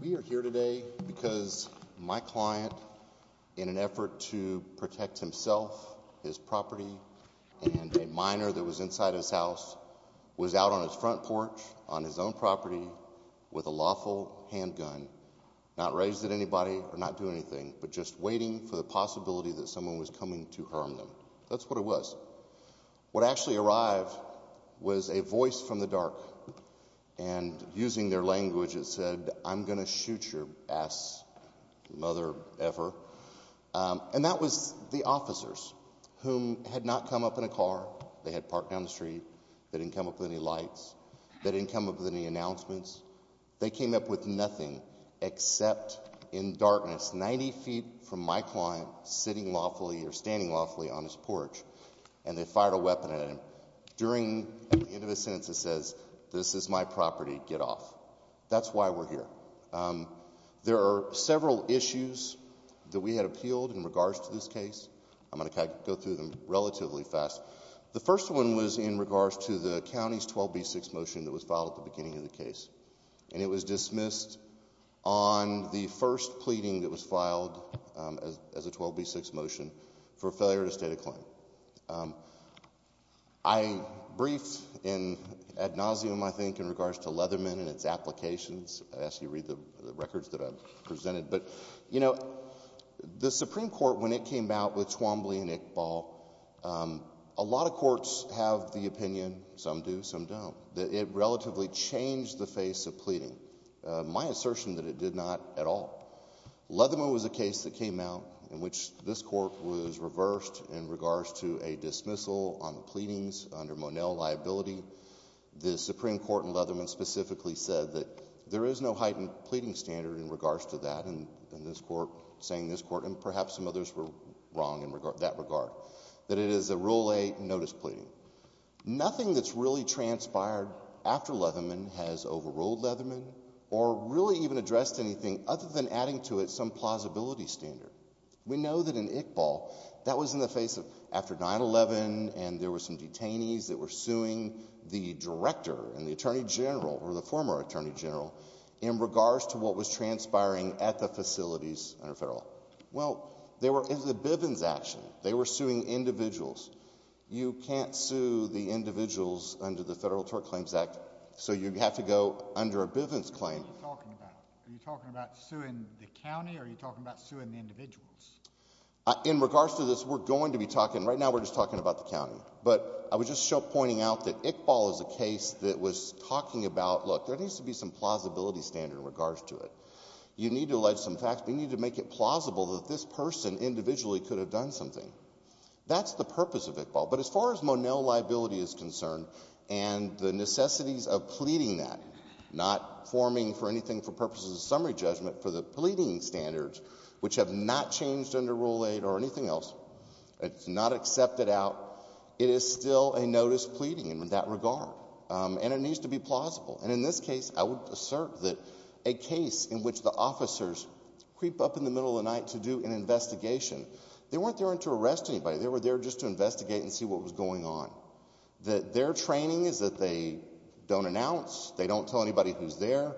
We are here today because my client, in an effort to protect himself, his property, and a minor that was inside his house, was out on his front porch on his own property with a lawful handgun, not raising anybody or not doing anything, but just waiting for the possibility that someone was coming to harm them. That's what it was. What actually arrived was a voice from the dark, and using their language, it said, I'm going to shoot your ass, mother ever. And that was the officers, whom had not come up in a car, they had parked down the street, they didn't come up with any lights, they didn't come up with any announcements. They came up with nothing except, in darkness, 90 feet from my client, sitting lawfully or standing lawfully on his porch, and they fired a weapon at him. During the end of his sentence, it says, this is my property, get off. That's why we're here. There are several issues that we had appealed in regards to this case. I'm going to go through them relatively fast. The first one was in regards to the county's 12B6 motion that was filed at the beginning of the case. And it was dismissed on the first pleading that was filed as a 12B6 motion for failure to state a claim. I briefed in ad nauseum, I think, in regards to Leatherman and its applications, as you read the records that I've presented, but, you know, the Supreme Court, when it came out with Twombly and Iqbal, a lot of courts have the opinion, some do, some don't, that it relatively changed the face of pleading. My assertion that it did not at all. Leatherman was a case that came out in which this court was reversed in regards to a dismissal on the pleadings under Monell liability. The Supreme Court in Leatherman specifically said that there is no heightened pleading standard in regards to that, and this court, saying this court, and perhaps some others were wrong in that regard, that it is a Rule 8 notice pleading. Nothing that's really transpired after Leatherman has overruled Leatherman or really even addressed anything other than adding to it some plausibility standard. We know that in Iqbal, that was in the face of after 9-11 and there were some detainees that were suing the director and the attorney general, or the former attorney general, in regards to what was transpiring at the facilities under federal law. Well, they were in the Bivens action. They were suing individuals. You can't sue the individuals under the Federal Tort Claims Act, so you have to go under a Bivens claim. What are you talking about? Are you talking about suing the county or are you talking about suing the individuals? In regards to this, we're going to be talking, right now we're just talking about the county, but I would just show pointing out that Iqbal is a case that was talking about, look, there needs to be some plausibility standard in regards to it. You need to allege some facts. We need to make it plausible that this person individually could have done something. That's the purpose of Iqbal. But as far as Monell liability is concerned and the necessities of pleading that, not forming for anything for purposes of summary judgment, for the pleading standards, which have not changed under Rule 8 or anything else, it's not accepted out, it is still a notice pleading in that regard. And it needs to be plausible. And in this case, I would assert that a case in which the officers creep up in the middle of the night to do an investigation, they weren't there to arrest anybody. They were there just to investigate and see what was going on. Their training is that they don't announce, they don't tell anybody who's there,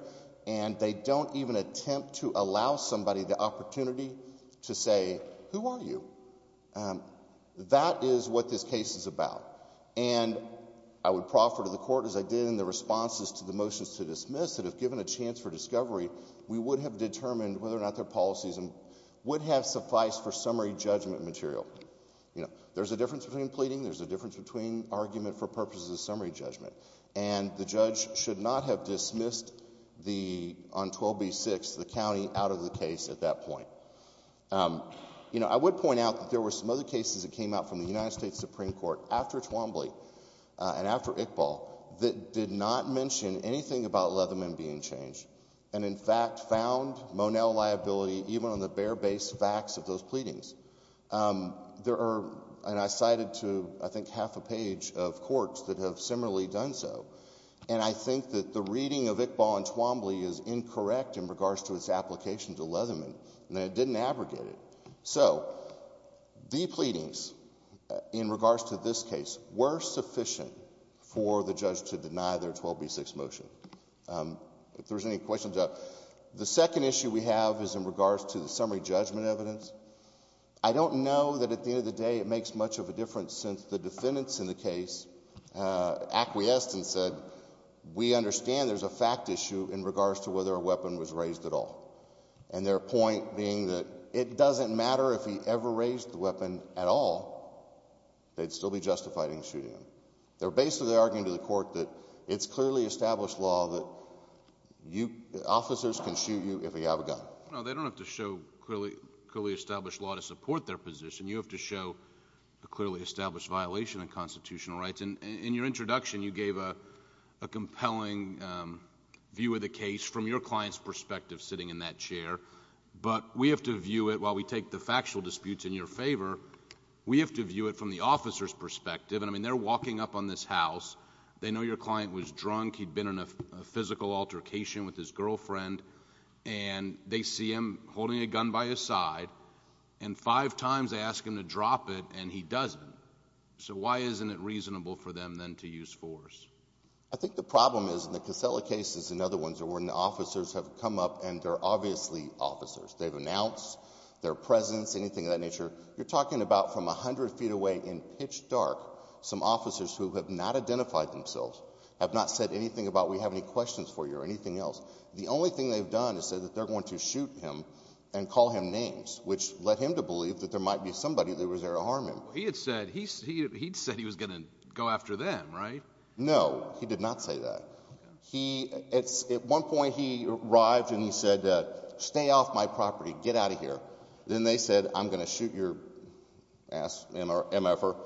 and they don't even attempt to allow somebody the opportunity to say, who are you? That is what this case is about. And I would proffer to the court, as I did in the responses to the motions to dismiss, that if given a chance for discovery, we would have determined whether or not their policies and would have sufficed for summary judgment material. There's a difference between pleading. There's a difference between argument for purposes of summary judgment. And the judge should not have dismissed the, on 12B6, the county out of the case at that point. I would point out that there were some other cases that came out from the United States Supreme Court after Twombly and after Iqbal that did not mention anything about Leatherman being changed, and in fact found Monell liability even on the bare base facts of those pleadings. There are, and I cited to, I think, half a page of courts that have similarly done so. And I think that the reading of Iqbal and Twombly is incorrect in regards to its application to Leatherman, and it didn't abrogate it. So the pleadings in regards to this case were sufficient for the judge to deny their 12B6 motion. If there's any questions, the second issue we have is in regards to the summary judgment evidence. I don't know that at the end of the day it makes much of a difference since the defendants in the case acquiesced and said, we understand there's a fact issue in regards to whether a weapon was raised at all. And their point being that it doesn't matter if he ever raised the weapon at all, they'd still be justified in shooting him. They're basically arguing to the court that it's clearly established law that officers can shoot you if you have a gun. No, they don't have to show clearly established law to support their position. You have to show a clearly established violation of constitutional rights. In your introduction, you gave a compelling view of the case from your client's perspective sitting in that chair, but we have to view it, while we take the factual disputes in your favor, we have to view it from the officer's perspective. I mean, they're walking up on this house, they know your client was drunk, he'd been in a physical altercation with his girlfriend, and they see him holding a gun by his side, and five times they ask him to drop it and he doesn't. So why isn't it reasonable for them then to use force? I think the problem is, in the Casella cases and other ones, are when officers have come up and they're obviously officers. They've announced their presence, anything of that nature. You're talking about from a hundred feet away in pitch dark, some officers who have not identified themselves, have not said anything about we have any questions for you or anything else. The only thing they've done is say that they're going to shoot him and call him names, which led him to believe that there might be somebody that was there to harm him. He'd said he was going to go after them, right? No, he did not say that. At one point he arrived and he said, stay off my property, get out of here. Then they said, I'm going to shoot your ass, MFR.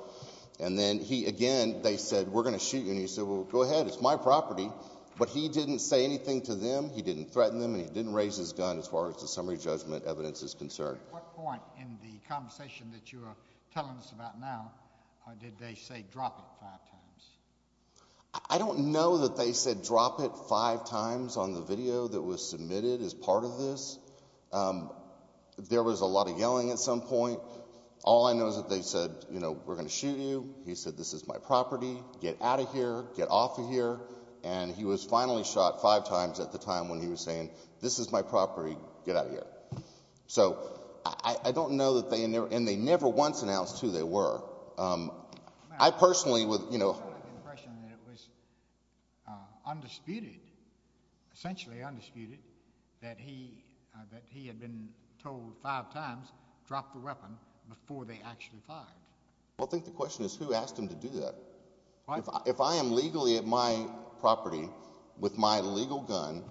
And then he again, they said, we're going to shoot you, and he said, well, go ahead, it's my property. But he didn't say anything to them, he didn't threaten them, and he didn't raise his gun as far as the summary judgment evidence is concerned. At what point in the conversation that you are telling us about now did they say drop it five times? I don't know that they said drop it five times on the video that was submitted as part of this. There was a lot of yelling at some point. All I know is that they said, you know, we're going to shoot you. He said, this is my property, get out of here, get off of here. And he was finally shot five times at the time when he was saying, this is my property, get out of here. So I don't know that they, and they never once announced who they were. I personally would, you know. I have the impression that it was undisputed, essentially undisputed, that he, that he had been told five times, drop the weapon before they actually fired. Well, I think the question is who asked him to do that? If I am legally at my property with my legal gun,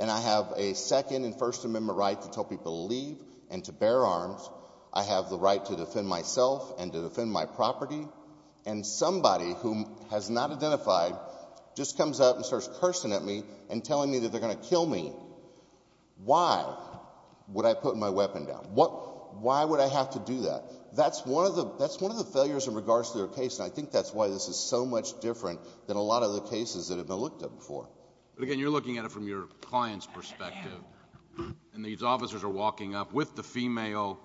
and I have a Second and First Amendment right to tell people to leave and to bear arms, I have the right to defend myself and to defend my property, and somebody who has not identified just comes up and starts cursing at me and telling me that they're going to kill me, why would I put my weapon down? Why would I have to do that? That's one of the, that's one of the failures in regards to their case, and I think that's why this is so much different than a lot of the cases that have been looked at before. But again, you're looking at it from your client's perspective, and these officers are walking up with the female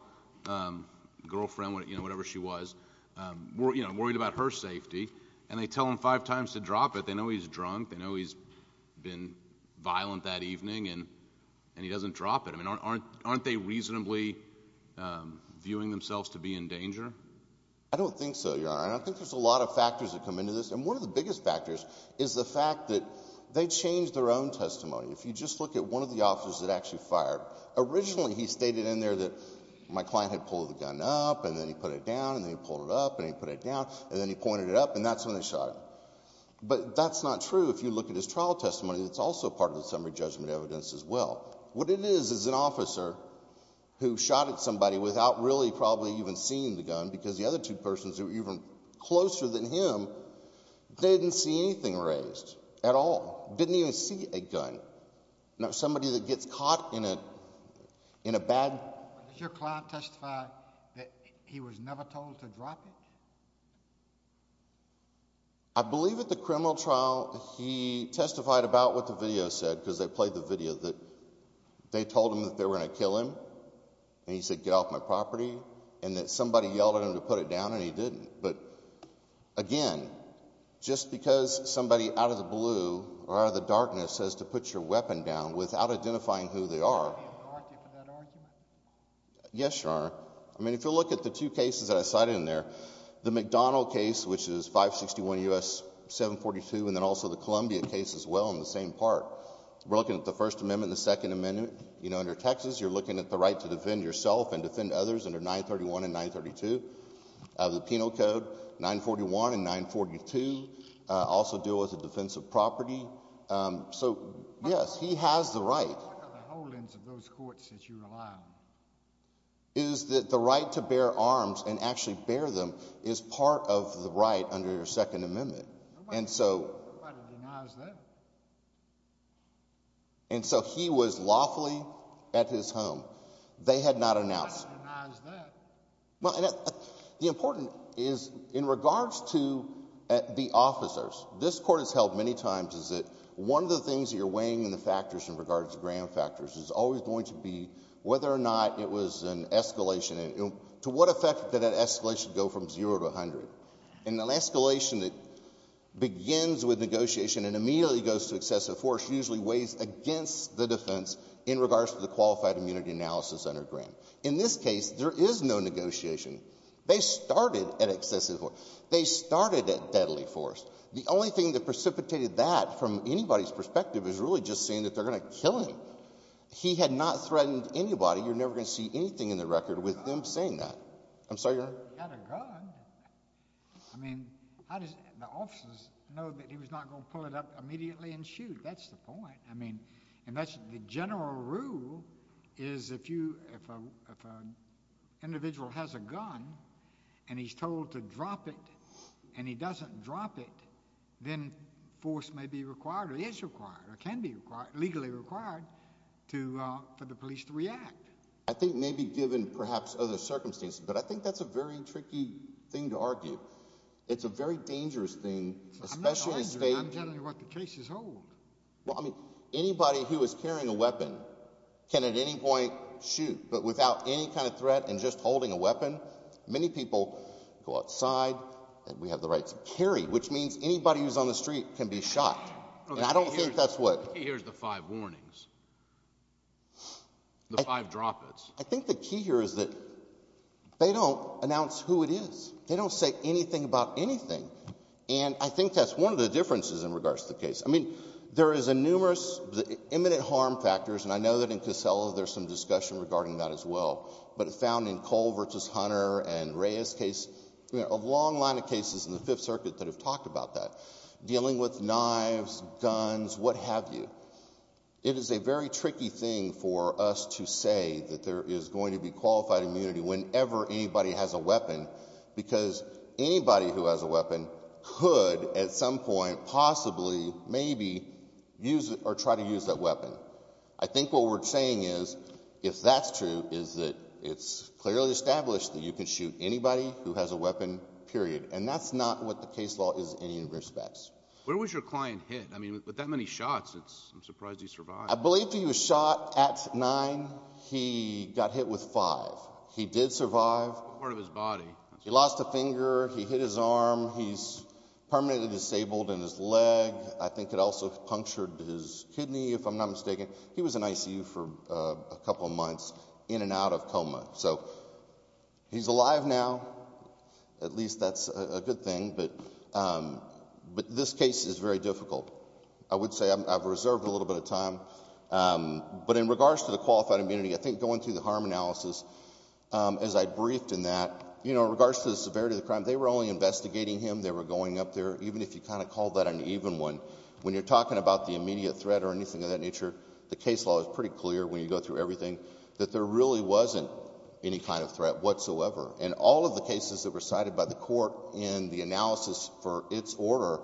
girlfriend, you know, whatever she was, you know, worried about her safety, and they tell him five times to drop it. They know he's drunk. They know he's been violent that evening, and he doesn't drop it. I mean, aren't they reasonably viewing themselves to be in danger? I don't think so, Your Honor. I think there's a lot of factors that come into this, and one of the biggest factors is the fact that they changed their own testimony. If you just look at one of the officers that actually fired, originally he stated in there that my client had pulled the gun up, and then he put it down, and then he pulled it up, and he put it down, and then he pointed it up, and that's when they shot him. But that's not true if you look at his trial testimony. It's also part of the summary judgment evidence as well. What it is is an officer who shot at somebody without really probably even seeing the gun, because the other two persons who were even closer than him didn't see anything raised at all. Didn't even see a gun. Not somebody that gets caught in a bad... Did your client testify that he was never told to drop it? I believe at the criminal trial he testified about what the video said, because they played the video, that they told him that they were going to kill him, and he said, get off my property, and that somebody yelled at him to put it down, and he didn't. But again, just because somebody out of the blue or out of the darkness says to put your weapon down without identifying who they are... Do you have a hierarchy for that argument? Yes, Your Honor. I mean, if you look at the two cases that I cited in there, the McDonald case, which is 561 U.S. 742, and then also the Columbia case as well in the same part, we're looking at the First Amendment and the Second Amendment. You know, under Texas, you're looking at the right to defend yourself and defend others under 931 and 932 of the Penal Code, 941 and 942, also deal with the defense of property. So yes, he has the right. Look at the holdings of those courts that you rely on. Is that the right to bear arms and actually bear them is part of the right under your Second Amendment. Nobody denies that. And so he was lawfully at his home. They had not announced. Nobody denies that. Well, and the important is, in regards to the officers, this Court has held many times is that one of the things that you're weighing in the factors in regards to gram factors is always going to be whether or not it was an escalation. To what effect did that escalation go from zero to 100? And an escalation that begins with negotiation and immediately goes to excessive force usually weighs against the defense in regards to the qualified immunity analysis under gram. In this case, there is no negotiation. They started at excessive force. They started at deadly force. The only thing that precipitated that from anybody's perspective is really just saying that they're going to kill him. He had not threatened anybody. You're never going to see anything in the record with them saying that. I'm sorry, Your Honor. He had a gun. I mean, how does the officers know that he was not going to pull it up immediately and shoot? That's the point. I mean, and that's the general rule is if you, if an individual has a gun and he's told to drop it and he doesn't drop it, then force may be required or is required or can be required, legally required to, for the police to react. I think maybe given perhaps other circumstances, but I think that's a very tricky thing to argue. It's a very dangerous thing, especially as they... I'm not arguing. I'm telling you what the case is old. Well, I mean, anybody who is carrying a weapon can at any point shoot, but without any kind of threat and just holding a weapon, many people go outside and we have the right to carry, which means anybody who's on the street can be shot. And I don't think that's what... Here's the five warnings, the five drop-its. I think the key here is that they don't announce who it is. They don't say anything about anything. And I think that's one of the differences in regards to the case. I mean, there is a numerous imminent harm factors, and I know that in Casella there's some discussion regarding that as well, but it's found in Cole versus Hunter and Reyes case, a long line of cases in the Fifth Circuit that have talked about that, dealing with knives, guns, what have you. It is a very tricky thing for us to say that there is going to be qualified immunity whenever anybody has a weapon, because anybody who has a weapon could at some point possibly maybe use or try to use that weapon. I think what we're saying is, if that's true, is that it's clearly established that you can shoot anybody who has a weapon, period. And that's not what the case law is in any respects. Where was your client hit? I mean, with that many shots, I'm surprised he survived. I believe he was shot at nine. He got hit with five. He did survive. What part of his body? He lost a finger, he hit his arm, he's permanently disabled in his leg. I think it also punctured his kidney, if I'm not mistaken. He was in ICU for a couple of months, in and out of coma. So he's alive now, at least that's a good thing, but this case is very difficult. I would say I've reserved a little bit of time. But in regards to the qualified immunity, I think going through the harm analysis, as I briefed in that, you know, in regards to the severity of the crime, they were only investigating him, they were going up there, even if you kind of call that an even one. When you're talking about the immediate threat or anything of that nature, the case law is pretty clear when you go through everything, that there really wasn't any kind of threat whatsoever. And all of the cases that were cited by the court in the analysis for its order,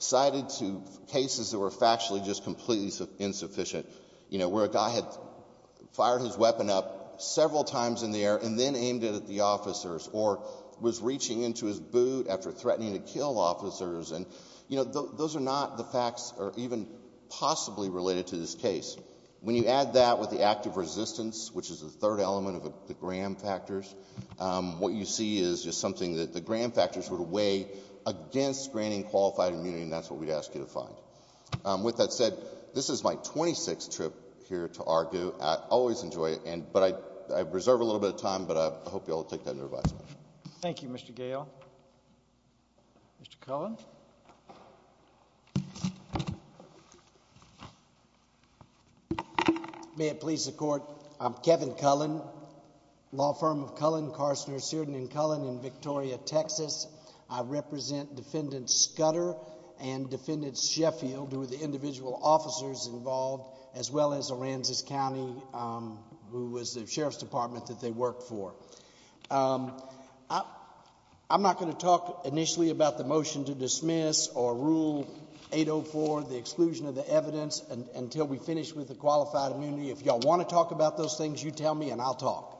cited to cases that were factually just completely insufficient, you know, where a guy had fired his weapon up several times in the air and then aimed it at the officers, or was reaching into his boot after threatening to kill officers, and, you know, those are not the facts, or even possibly related to this case. When you add that with the act of resistance, which is the third element of the Graham factors, what you see is just something that the Graham factors would weigh against granting qualified immunity, and that's what we'd ask you to find. With that said, this is my 26th trip here to Argoo. I always enjoy it, but I reserve a little bit of time, but I hope you'll all take that under advisement. Thank you, Mr. Gale. Mr. Cullen? May it please the Court, I'm Kevin Cullen, law firm of Cullen, Carstner, Searden & Cullen in Victoria, Texas. I represent Defendant Scudder and Defendant Sheffield, who are the individual officers involved, as well as Aransas County, who was the Sheriff's Department that they worked for. I'm not going to talk initially about the motion to dismiss or Rule 804, the exclusion of the evidence, until we finish with the qualified immunity. If y'all want to talk about those things, you tell me and I'll talk.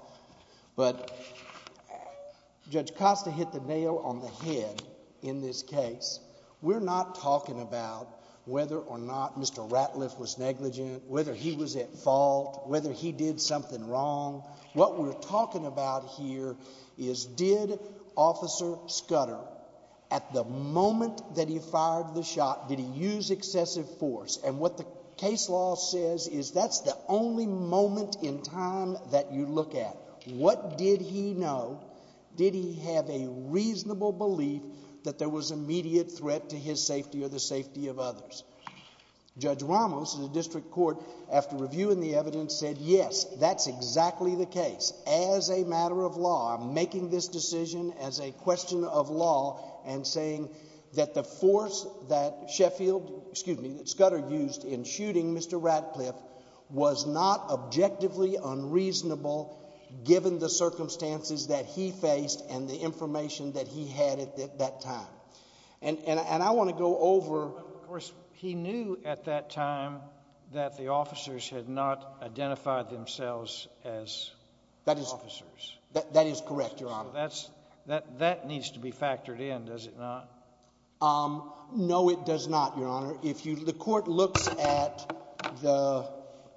But Judge Costa hit the nail on the head in this case. We're not talking about whether or not Mr. Ratliff was negligent, whether he was at fault, whether he did something wrong. What we're talking about here is did Officer Scudder, at the moment that he fired the shot, did he use excessive force? And what the case law says is that's the only moment in time that you look at. What did he know? Did he have a reasonable belief that there was immediate threat to his safety or the safety of others? Judge Ramos, in the District Court, after reviewing the evidence, said yes, that's exactly the case. As a matter of law, I'm making this decision as a question of law and saying that the force that Scudder used in shooting Mr. Ratliff was not objectively unreasonable, given the circumstances that he faced and the information that he had at that time. And I want to go over... But of course, he knew at that time that the officers had not identified themselves as officers. That is correct, Your Honor. So that needs to be factored in, does it not? No, it does not, Your Honor. The court looks at the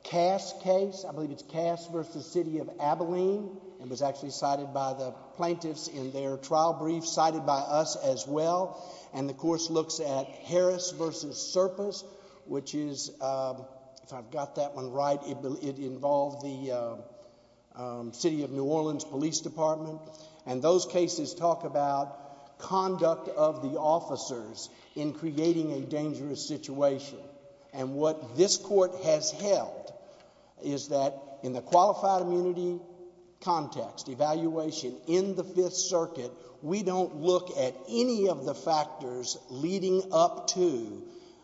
Cass case, I believe it's Cass v. City of Abilene, and was actually cited by the plaintiffs in their trial brief, cited by us as well. And the course looks at Harris v. Serpas, which is, if I've got that one right, it involved the City of New Orleans Police Department. And those cases talk about conduct of the officers in creating a dangerous situation. And what this court has held is that in the qualified immunity context, evaluation in the Fifth Circuit, we don't look at any of the factors leading up to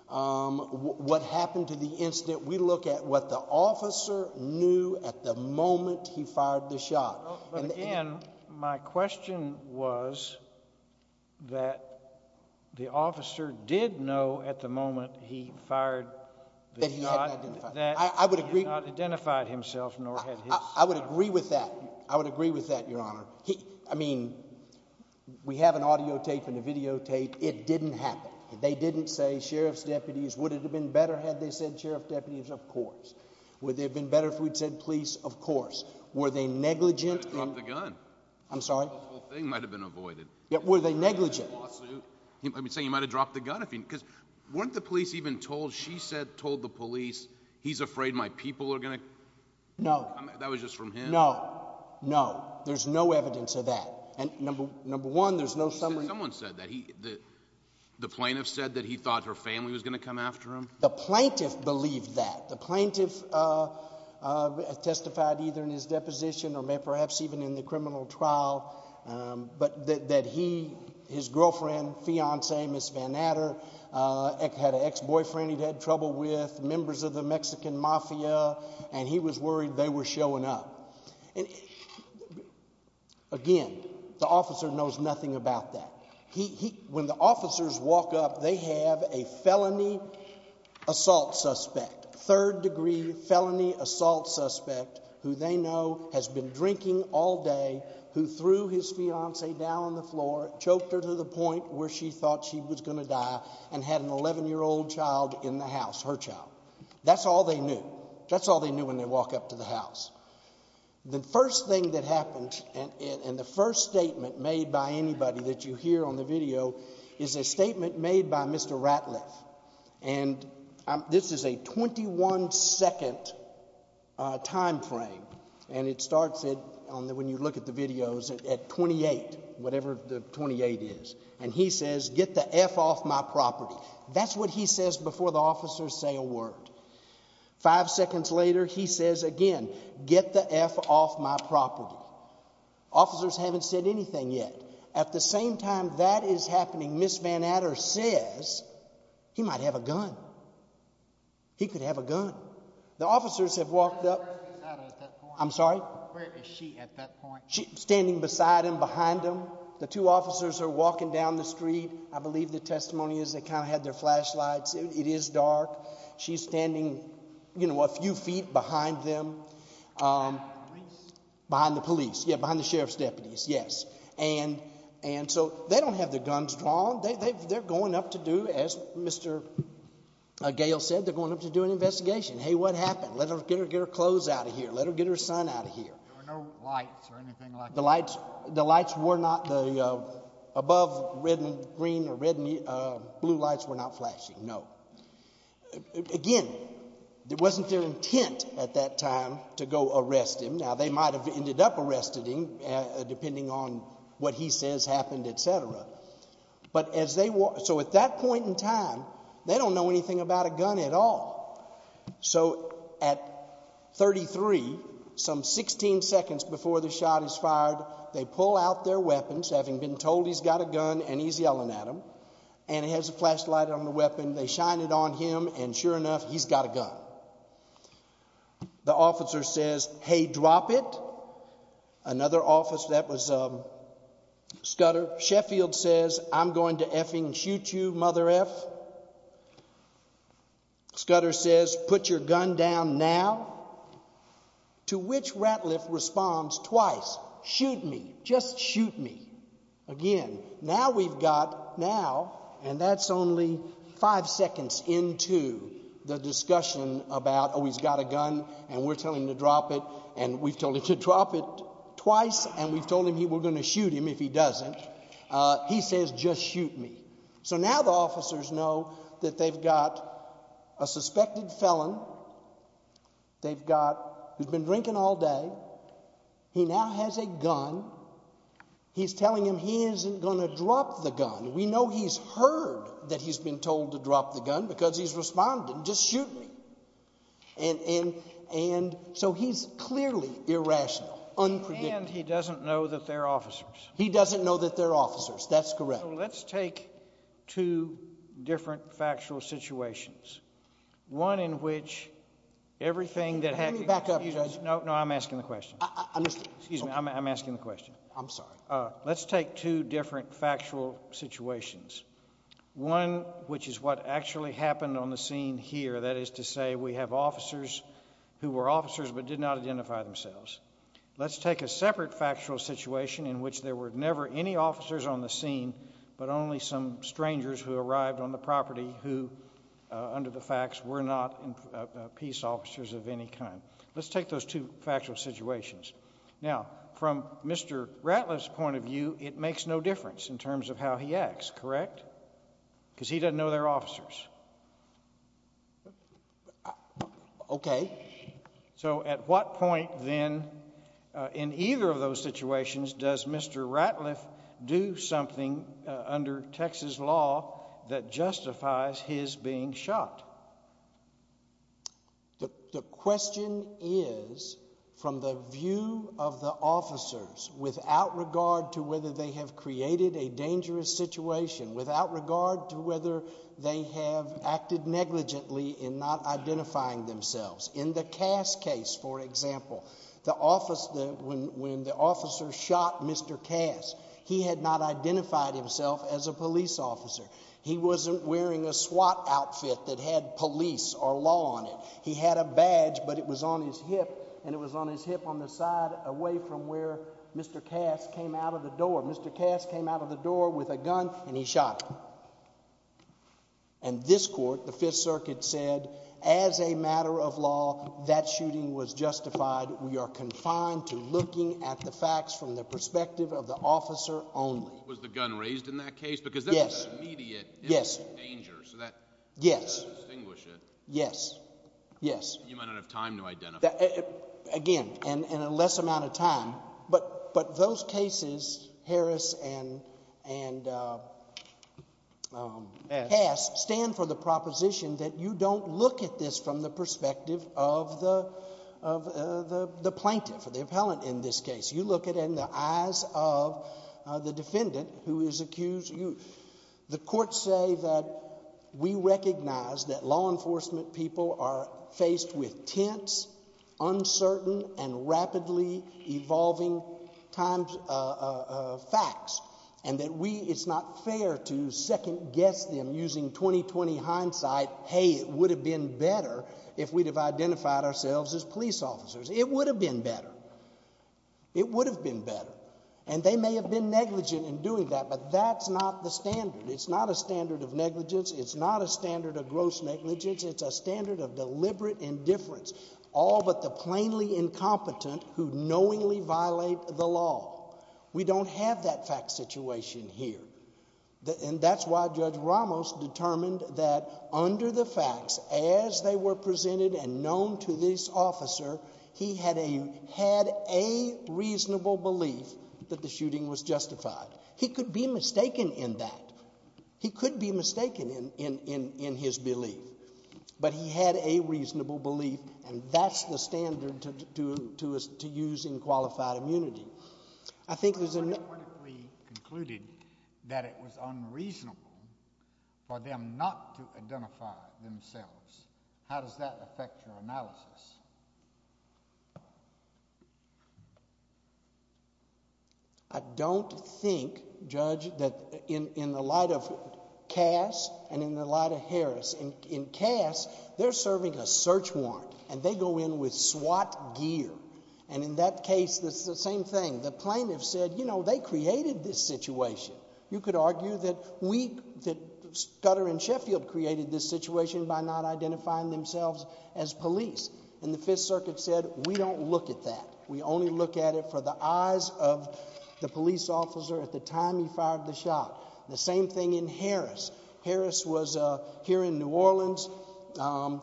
what happened to the incident. We look at what the officer knew at the moment he fired the shot. But again, my question was that the officer did know at the moment he fired the shot... That he hadn't identified himself. ...that he had not identified himself, nor had his... I would agree with that. I would agree with that, Your Honor. I mean, we have an audio tape and a videotape. It didn't happen. They didn't say, Sheriff's deputies, would it have been better had they said Sheriff deputies? Of course. Would it have been better if we'd said police? Were they negligent? He should have dropped the gun. I'm sorry? The whole thing might have been avoided. Were they negligent? He might have been saying he might have dropped the gun. Because weren't the police even told, she said, told the police, he's afraid my people are going to... No. That was just from him. No. No. There's no evidence of that. And number one, there's no summary... Someone said that. The plaintiff said that he thought her family was going to come after him? The plaintiff believed that. The plaintiff testified either in his deposition or perhaps even in the criminal trial, but that he, his girlfriend, fiancee, Ms. Van Adder, had an ex-boyfriend he'd had trouble with, members of the Mexican mafia, and he was worried they were showing up. Again, the officer knows nothing about that. When the officers walk up, they have a felony assault suspect, third-degree felony assault suspect who they know has been drinking all day, who threw his fiancee down on the floor, choked her to the point where she thought she was going to die, and had an 11-year-old child in the house, her child. That's all they knew. That's all they knew when they walk up to the house. The first thing that happened, and the first statement made by anybody that you hear on the video is a statement made by Mr. Ratliff, and this is a 21-second time frame, and it starts it, when you look at the videos, at 28, whatever the 28 is. And he says, get the F off my property. That's what he says before the officers say a word. Five seconds later, he says again, get the F off my property. Officers haven't said anything yet. At the same time that is happening, Ms. Van Adder says, he might have a gun. He could have a gun. The officers have walked up. I'm sorry? Where is she at that point? Standing beside him, behind him. The two officers are walking down the street. I believe the testimony is they kind of had their flashlights. It is dark. She is standing a few feet behind them. Behind the police? Behind the police. Yeah, behind the sheriff's deputies, yes. And so they don't have their guns drawn. They're going up to do, as Mr. Gale said, they're going up to do an investigation. Hey, what happened? Let her get her clothes out of here. Let her get her son out of here. There were no lights or anything like that? The lights were not, the above red and green or red and blue lights were not flashing, no. Again, it wasn't their intent at that time to go arrest him. Now, they might have ended up arresting him, depending on what he says happened, et cetera. But as they, so at that point in time, they don't know anything about a gun at all. So at 33, some 16 seconds before the shot is fired, they pull out their weapons, having been told he's got a gun and he's yelling at them. And he has a flashlight on the weapon. They shine it on him, and sure enough, he's got a gun. The officer says, hey, drop it. Another officer, that was Scudder. Sheffield says, I'm going to effing shoot you, mother eff. Scudder says, put your gun down now. To which Ratliff responds twice, shoot me, just shoot me. Again, now we've got, now, and that's only five seconds into the discussion about, oh, he's got a gun and we're telling him to drop it, and we've told him to drop it twice, and we've told him we're going to shoot him if he doesn't. He says, just shoot me. So now the officers know that they've got a suspected felon, they've got, who's been drinking all day. He now has a gun. He's telling him he isn't going to drop the gun. We know he's heard that he's been told to drop the gun because he's responded, just shoot me. And so he's clearly irrational, unpredictable. And he doesn't know that they're officers. He doesn't know that they're officers. That's correct. So let's take two different factual situations. One in which everything that happens- Let me back up, Judge. No, no. I'm asking the question. I missed it. Excuse me. I'm asking the question. I'm sorry. Let's take two different factual situations. One which is what actually happened on the scene here, that is to say we have officers who were officers but did not identify themselves. Let's take a separate factual situation in which there were never any officers on the scene, but only some strangers who arrived on the property who, under the facts, were not peace officers of any kind. Let's take those two factual situations. Now, from Mr. Ratliff's point of view, it makes no difference in terms of how he acts, correct? Because he doesn't know they're officers. Okay. So at what point then, in either of those situations, does Mr. Ratliff do something under Texas law that justifies his being shot? The question is, from the view of the officers, without regard to whether they have created a dangerous situation, without regard to whether they have acted negligently in not identifying themselves. In the Cass case, for example, when the officer shot Mr. Cass, he had not identified himself as a police officer. He wasn't wearing a SWAT outfit that had police or law on it. He had a badge, but it was on his hip, and it was on his hip on the side away from where Mr. Cass came out of the door. Mr. Cass came out of the door with a gun, and he shot him. And this court, the Fifth Circuit, said, as a matter of law, that shooting was justified. We are confined to looking at the facts from the perspective of the officer only. What was the gun raised in that case? Because that was an immediate danger. Yes. Yes. Yes. Yes. Yes. Yes. You might not have time to identify. Again, in a less amount of time. But those cases, Harris and Cass, stand for the proposition that you don't look at this from the perspective of the plaintiff, the appellant in this case. You look at it in the eyes of the defendant who is accused. The courts say that we recognize that law enforcement people are faced with tense, uncertain, and rapidly evolving facts, and that it's not fair to second-guess them using 20-20 hindsight. Hey, it would have been better if we'd have identified ourselves as police officers. It would have been better. It would have been better. And they may have been negligent in doing that, but that's not the standard. It's not a standard of negligence. It's not a standard of gross negligence. It's a standard of deliberate indifference. All but the plainly incompetent who knowingly violate the law. We don't have that fact situation here. And that's why Judge Ramos determined that under the facts, as they were presented and he had a reasonable belief that the shooting was justified. He could be mistaken in that. He could be mistaken in his belief. But he had a reasonable belief, and that's the standard to use in qualified immunity. I think there's a- What if we concluded that it was unreasonable for them not to identify themselves? How does that affect your analysis? I don't think, Judge, that in the light of Cass and in the light of Harris. In Cass, they're serving a search warrant, and they go in with SWAT gear. And in that case, it's the same thing. The plaintiff said, you know, they created this situation. You could argue that we, that Scudder and Sheffield created this situation by not identifying themselves as police. And the Fifth Circuit said, we don't look at that. We only look at it for the eyes of the police officer at the time he fired the shot. The same thing in Harris. Harris was here in New Orleans.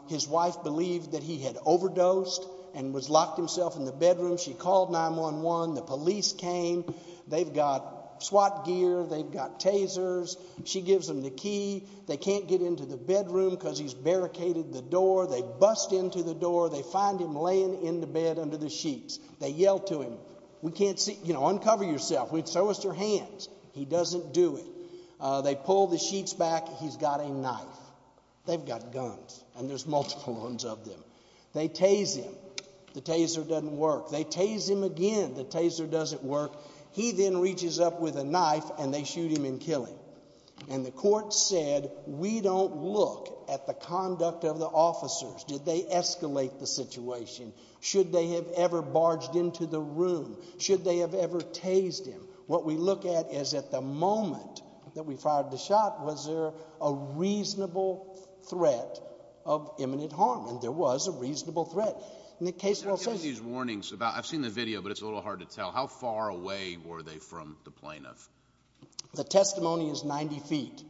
His wife believed that he had overdosed and was locked himself in the bedroom. She called 911. The police came. They've got SWAT gear. They've got tasers. She gives them the key. They can't get into the bedroom because he's barricaded the door. They bust into the door. They find him laying in the bed under the sheets. They yell to him. We can't see- You know, uncover yourself. We'd show us your hands. He doesn't do it. They pull the sheets back. He's got a knife. They've got guns, and there's multiple ones of them. They tase him. The taser doesn't work. They tase him again. The taser doesn't work. He then reaches up with a knife, and they shoot him and kill him. And the court said, we don't look at the conduct of the officers. Did they escalate the situation? Should they have ever barged into the room? Should they have ever tased him? What we look at is, at the moment that we fired the shot, was there a reasonable threat of imminent harm? And there was a reasonable threat. In the case- I'm getting these warnings about- I've seen the video, but it's a little hard to tell. How far away were they from the plaintiff? The testimony is 90 feet.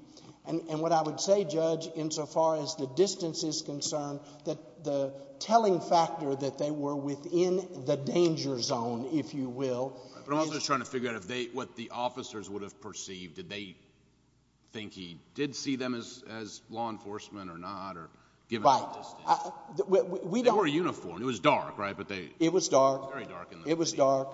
And what I would say, Judge, insofar as the distance is concerned, that the telling factor that they were within the danger zone, if you will- But I'm also just trying to figure out if they- what the officers would have perceived. Did they think he did see them as law enforcement or not, or given the distance? Right. We don't- It was dark, right? But they- It was dark. Very dark. It was dark.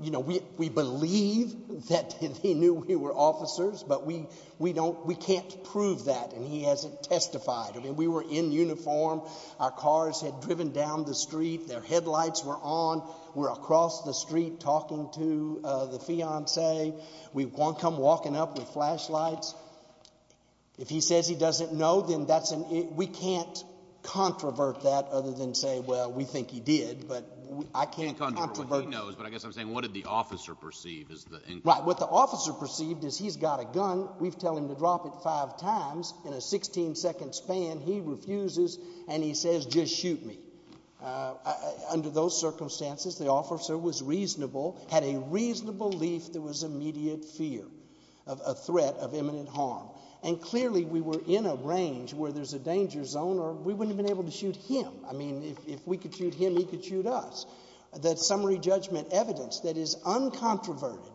You know, we believe that they knew we were officers, but we don't- we can't prove that and he hasn't testified. I mean, we were in uniform. Our cars had driven down the street. Their headlights were on. We're across the street talking to the fiancé. We've come walking up with flashlights. If he says he doesn't know, then that's an- we can't controvert that other than say, well, we think he did, but I can't- You can't controvert what he knows, but I guess I'm saying what did the officer perceive is the- Right. What the officer perceived is he's got a gun. We've tell him to drop it five times. In a 16-second span, he refuses and he says, just shoot me. Under those circumstances, the officer was reasonable, had a reasonable belief there was immediate fear of a threat of imminent harm. And clearly, we were in a range where there's a danger zone or we wouldn't have been able to shoot him. I mean, if we could shoot him, he could shoot us. That summary judgment evidence that is uncontroverted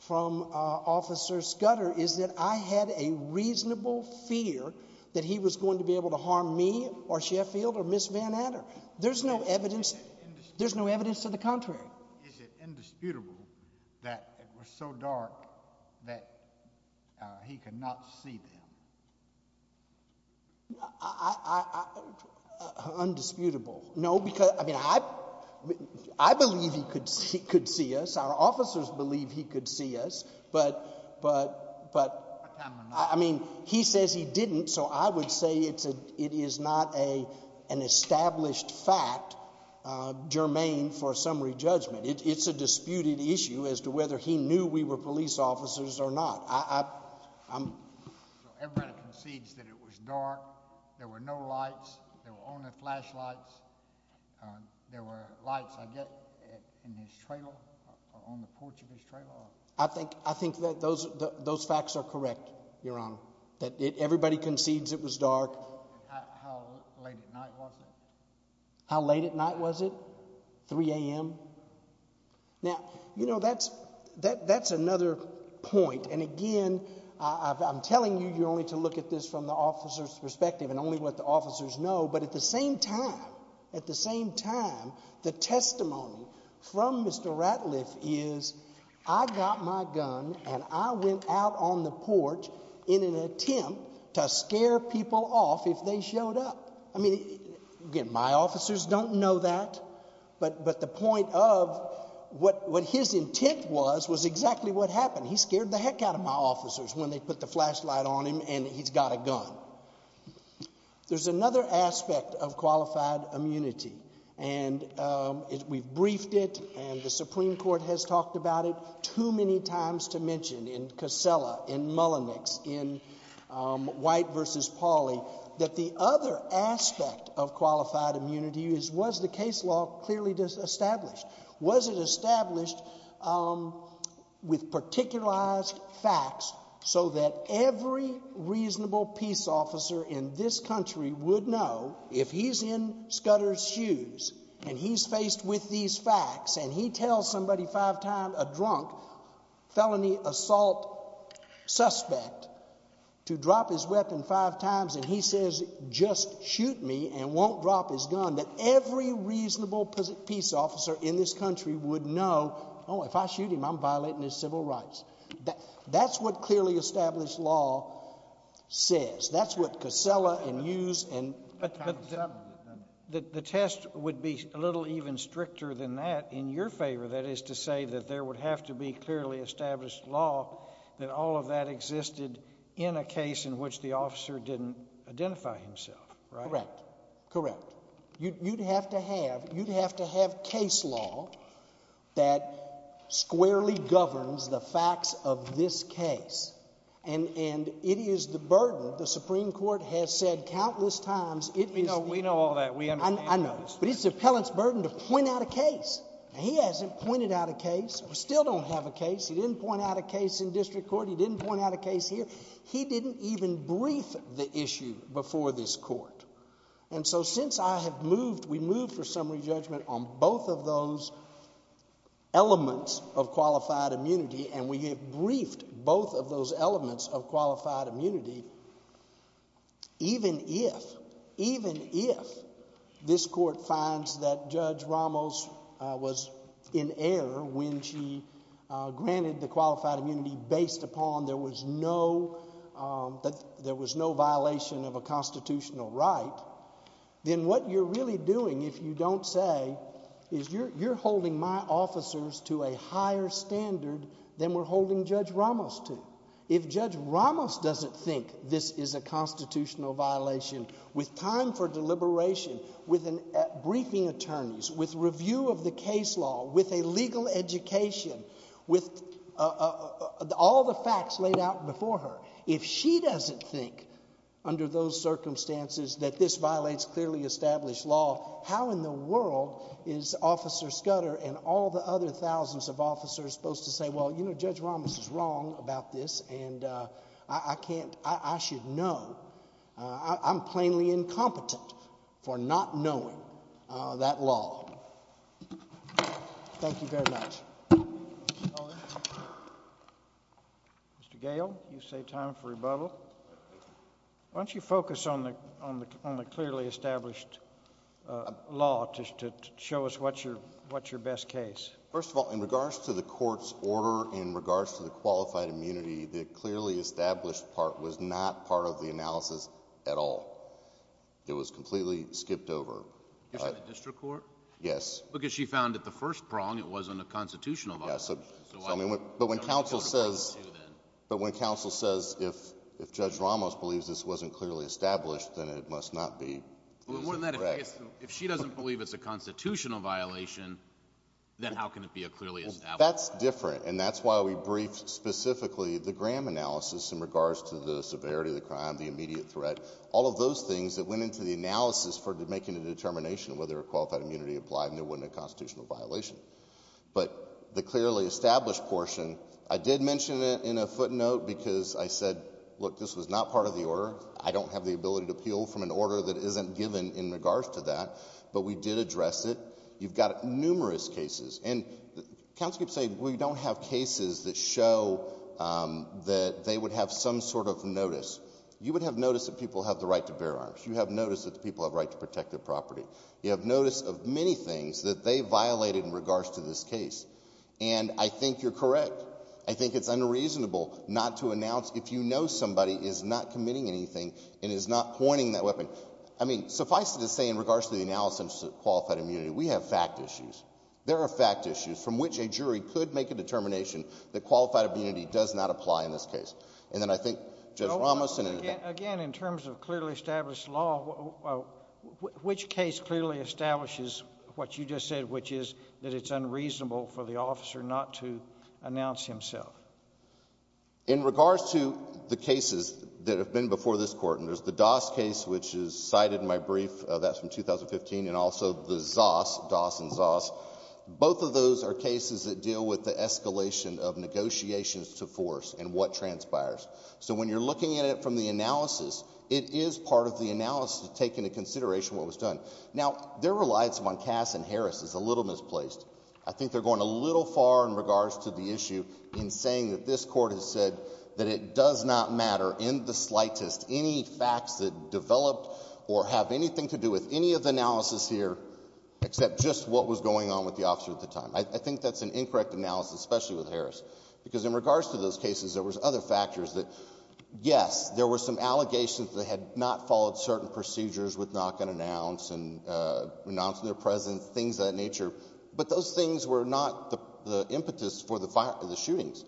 from Officer Scudder is that I had a reasonable fear that he was going to be able to harm me or Sheffield or Ms. Van Ander. There's no evidence- Is it indisputable- There's no evidence to the contrary. Is it indisputable that it was so dark that he could not see them? Undisputable. No, because, I mean, I believe he could see us. Our officers believe he could see us, but I mean, he says he didn't, so I would say it's a, it is not a, an established fact germane for summary judgment. It's a disputed issue as to whether he knew we were police officers or not. I, I, I'm- So everybody concedes that it was dark, there were no lights, there were only flashlights, there were lights, I guess, in his trailer, on the porch of his trailer? I think, I think that those, those facts are correct, Your Honor. That it, everybody concedes it was dark. How, how late at night was it? How late at night was it? Three a.m.? Now, you know, that's, that, that's another point, and again, I, I, I'm telling you, you're only to look at this from the officer's perspective and only what the officers know, but at the same time, at the same time, the testimony from Mr. Ratliff is, I got my gun and I went out on the porch in an attempt to scare people off if they showed up. I mean, again, my officers don't know that, but, but the point of what, what his intent was was exactly what happened. He scared the heck out of my officers when they put the flashlight on him and he's got a gun. There's another aspect of qualified immunity, and we've briefed it and the Supreme Court has talked about it too many times to mention in Casella, in Mullenix, in White v. Pauley, that the other aspect of qualified immunity is, was the case law clearly established? Was it established with particularized facts so that every reasonable peace officer in this country would know if he's in Scudder's shoes and he's faced with these facts and he tells somebody five times, a drunk, felony assault suspect, to drop his weapon five times and he says, just shoot me and won't drop his gun, that every reasonable peace officer in this country would know, oh, if I shoot him, I'm violating his civil rights. That's what clearly established law says. That's what Casella and Hughes and... But the test would be a little even stricter than that in your favor, that is to say that there would have to be clearly established law that all of that existed in a case in which the officer didn't identify himself, right? Correct. Correct. You'd have to have, you'd have to have case law that squarely governs the facts of this case and, and it is the burden, the Supreme Court has said countless times, it is... We know, we know all that. We understand all this. I know, but it's the appellant's burden to point out a case and he hasn't pointed out a case, still don't have a case, he didn't point out a case in district court, he didn't point out a case here, he didn't even brief the issue before this court. And so since I have moved, we moved for summary judgment on both of those elements of qualified immunity and we have briefed both of those elements of qualified immunity, even if, even if this court finds that Judge Ramos was in error when she granted the qualified immunity based upon there was no, there was no violation of a constitutional right, then what you're really doing, if you don't say, is you're, you're holding my officers to a higher standard than we're holding Judge Ramos to. If Judge Ramos doesn't think this is a constitutional violation, with time for deliberation, with an, at briefing attorneys, with review of the case law, with a legal education, with all the facts laid out before her, if she doesn't think under those circumstances that this violates clearly established law, how in the world is Officer Scudder and all the other thousands of officers supposed to say, well, you know, Judge Ramos is wrong about this and I can't, I should know. I'm plainly incompetent for not knowing that law. Thank you very much. Mr. Gale, you saved time for rebuttal. Why don't you focus on the, on the clearly established law just to show us what's your, what's your best case? First of all, in regards to the court's order, in regards to the qualified immunity, the clearly established part was not part of the analysis at all. It was completely skipped over. You're saying the district court? Yes. Because she found at the first prong it wasn't a constitutional violation. Yeah. So, I mean, but when counsel says, but when counsel says if, if Judge Ramos believes this wasn't clearly established, then it must not be. If she doesn't believe it's a constitutional violation, then how can it be a clearly established law? That's different. And that's why we briefed specifically the Graham analysis in regards to the severity of the crime, the immediate threat. All of those things that went into the analysis for making a determination whether a qualified immunity applied and there wasn't a constitutional violation. But the clearly established portion, I did mention it in a footnote because I said, look, this was not part of the order. I don't have the ability to appeal from an order that isn't given in regards to that, but we did address it. You've got numerous cases, and counsel keeps saying, well, you don't have cases that show that they would have some sort of notice. You would have notice that people have the right to bear arms. You have notice that the people have the right to protect their property. You have notice of many things that they violated in regards to this case. And I think you're correct. I think it's unreasonable not to announce if you know somebody is not committing anything and is not pointing that weapon. I mean, suffice it to say, in regards to the analysis of qualified immunity, we have fact issues. There are fact issues from which a jury could make a determination that qualified immunity does not apply in this case. And then I think Judge Ramoson and the judge— Again, in terms of clearly established law, which case clearly establishes what you just said, which is that it's unreasonable for the officer not to announce himself? In regards to the cases that have been before this Court, and there's the Doss case, which is cited in my brief, that's from 2015, and also the Zoss, Doss and Zoss, both of those are cases that deal with the escalation of negotiations to force and what transpires. So when you're looking at it from the analysis, it is part of the analysis to take into consideration what was done. Now, their reliance on Cass and Harris is a little misplaced. I think they're going a little far in regards to the issue in saying that this Court has said that it does not matter in the slightest any facts that developed or have anything to do with any of the analysis here, except just what was going on with the officer at the time. I think that's an incorrect analysis, especially with Harris. Because in regards to those cases, there was other factors that, yes, there were some allegations that had not followed certain procedures with knock and announce and renouncing their presence, things of that nature, but those things were not the impetus for the shootings.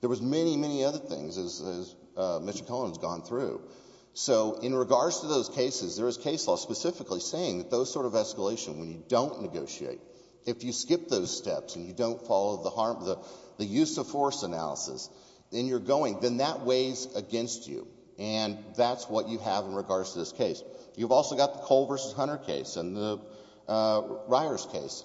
There was many, many other things as Mr. Collins has gone through. So in regards to those cases, there is case law specifically saying that those sort of escalation, when you don't negotiate, if you skip those steps and you don't follow the use of force analysis, then you're going, then that weighs against you. And that's what you have in regards to this case. You've also got the Cole v. Hunter case and the Ryars case.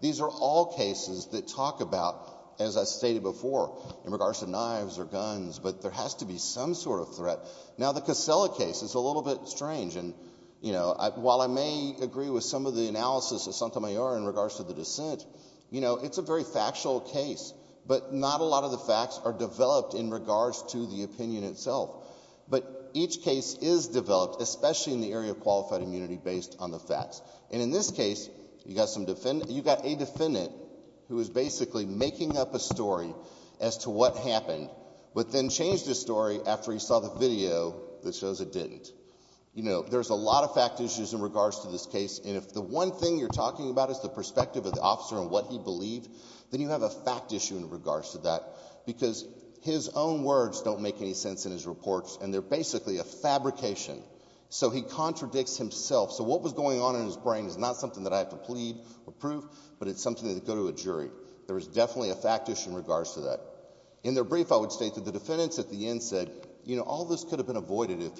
These are all cases that talk about, as I stated before, in regards to knives or guns, but there has to be some sort of threat. Now the Casella case is a little bit strange and, you know, while I may agree with some of the analysis of Santamayor in regards to the dissent, you know, it's a very factual case, but not a lot of the facts are developed in regards to the opinion itself. But each case is developed, especially in the area of qualified immunity based on the facts. And in this case, you've got a defendant who is basically making up a story as to what happened, but then changed his story after he saw the video that shows it didn't. You know, there's a lot of fact issues in regards to this case, and if the one thing you're talking about is the perspective of the officer and what he believed, then you have a fact issue in regards to that. Because his own words don't make any sense in his reports, and they're basically a fabrication. So he contradicts himself. So what was going on in his brain is not something that I have to plead or prove, but it's something that would go to a jury. There is definitely a fact issue in regards to that. In their brief, I would state that the defendants at the end said, you know, all this could have been avoided if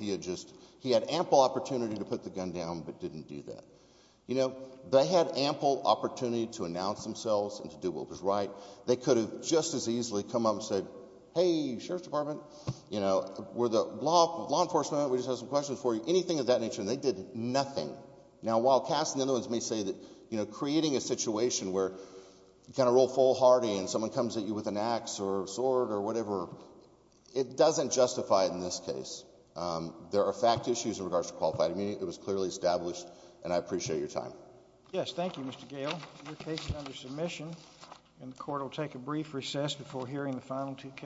he had ample opportunity to put the gun down but didn't do that. You know, they had ample opportunity to announce themselves and to do what was right. They could have just as easily come up and said, hey, Sheriff's Department, you know, we're the law enforcement, we just have some questions for you, anything of that nature, and they did nothing. Now while Cass and the other ones may say that, you know, creating a situation where you kind of roll full hardy and someone comes at you with an axe or a sword or whatever, it doesn't justify it in this case. There are fact issues in regards to qualified immunity. It was clearly established, and I appreciate your time. Yes, thank you, Mr. Gale. Your case is under submission, and the court will take a brief recess before hearing the final two cases.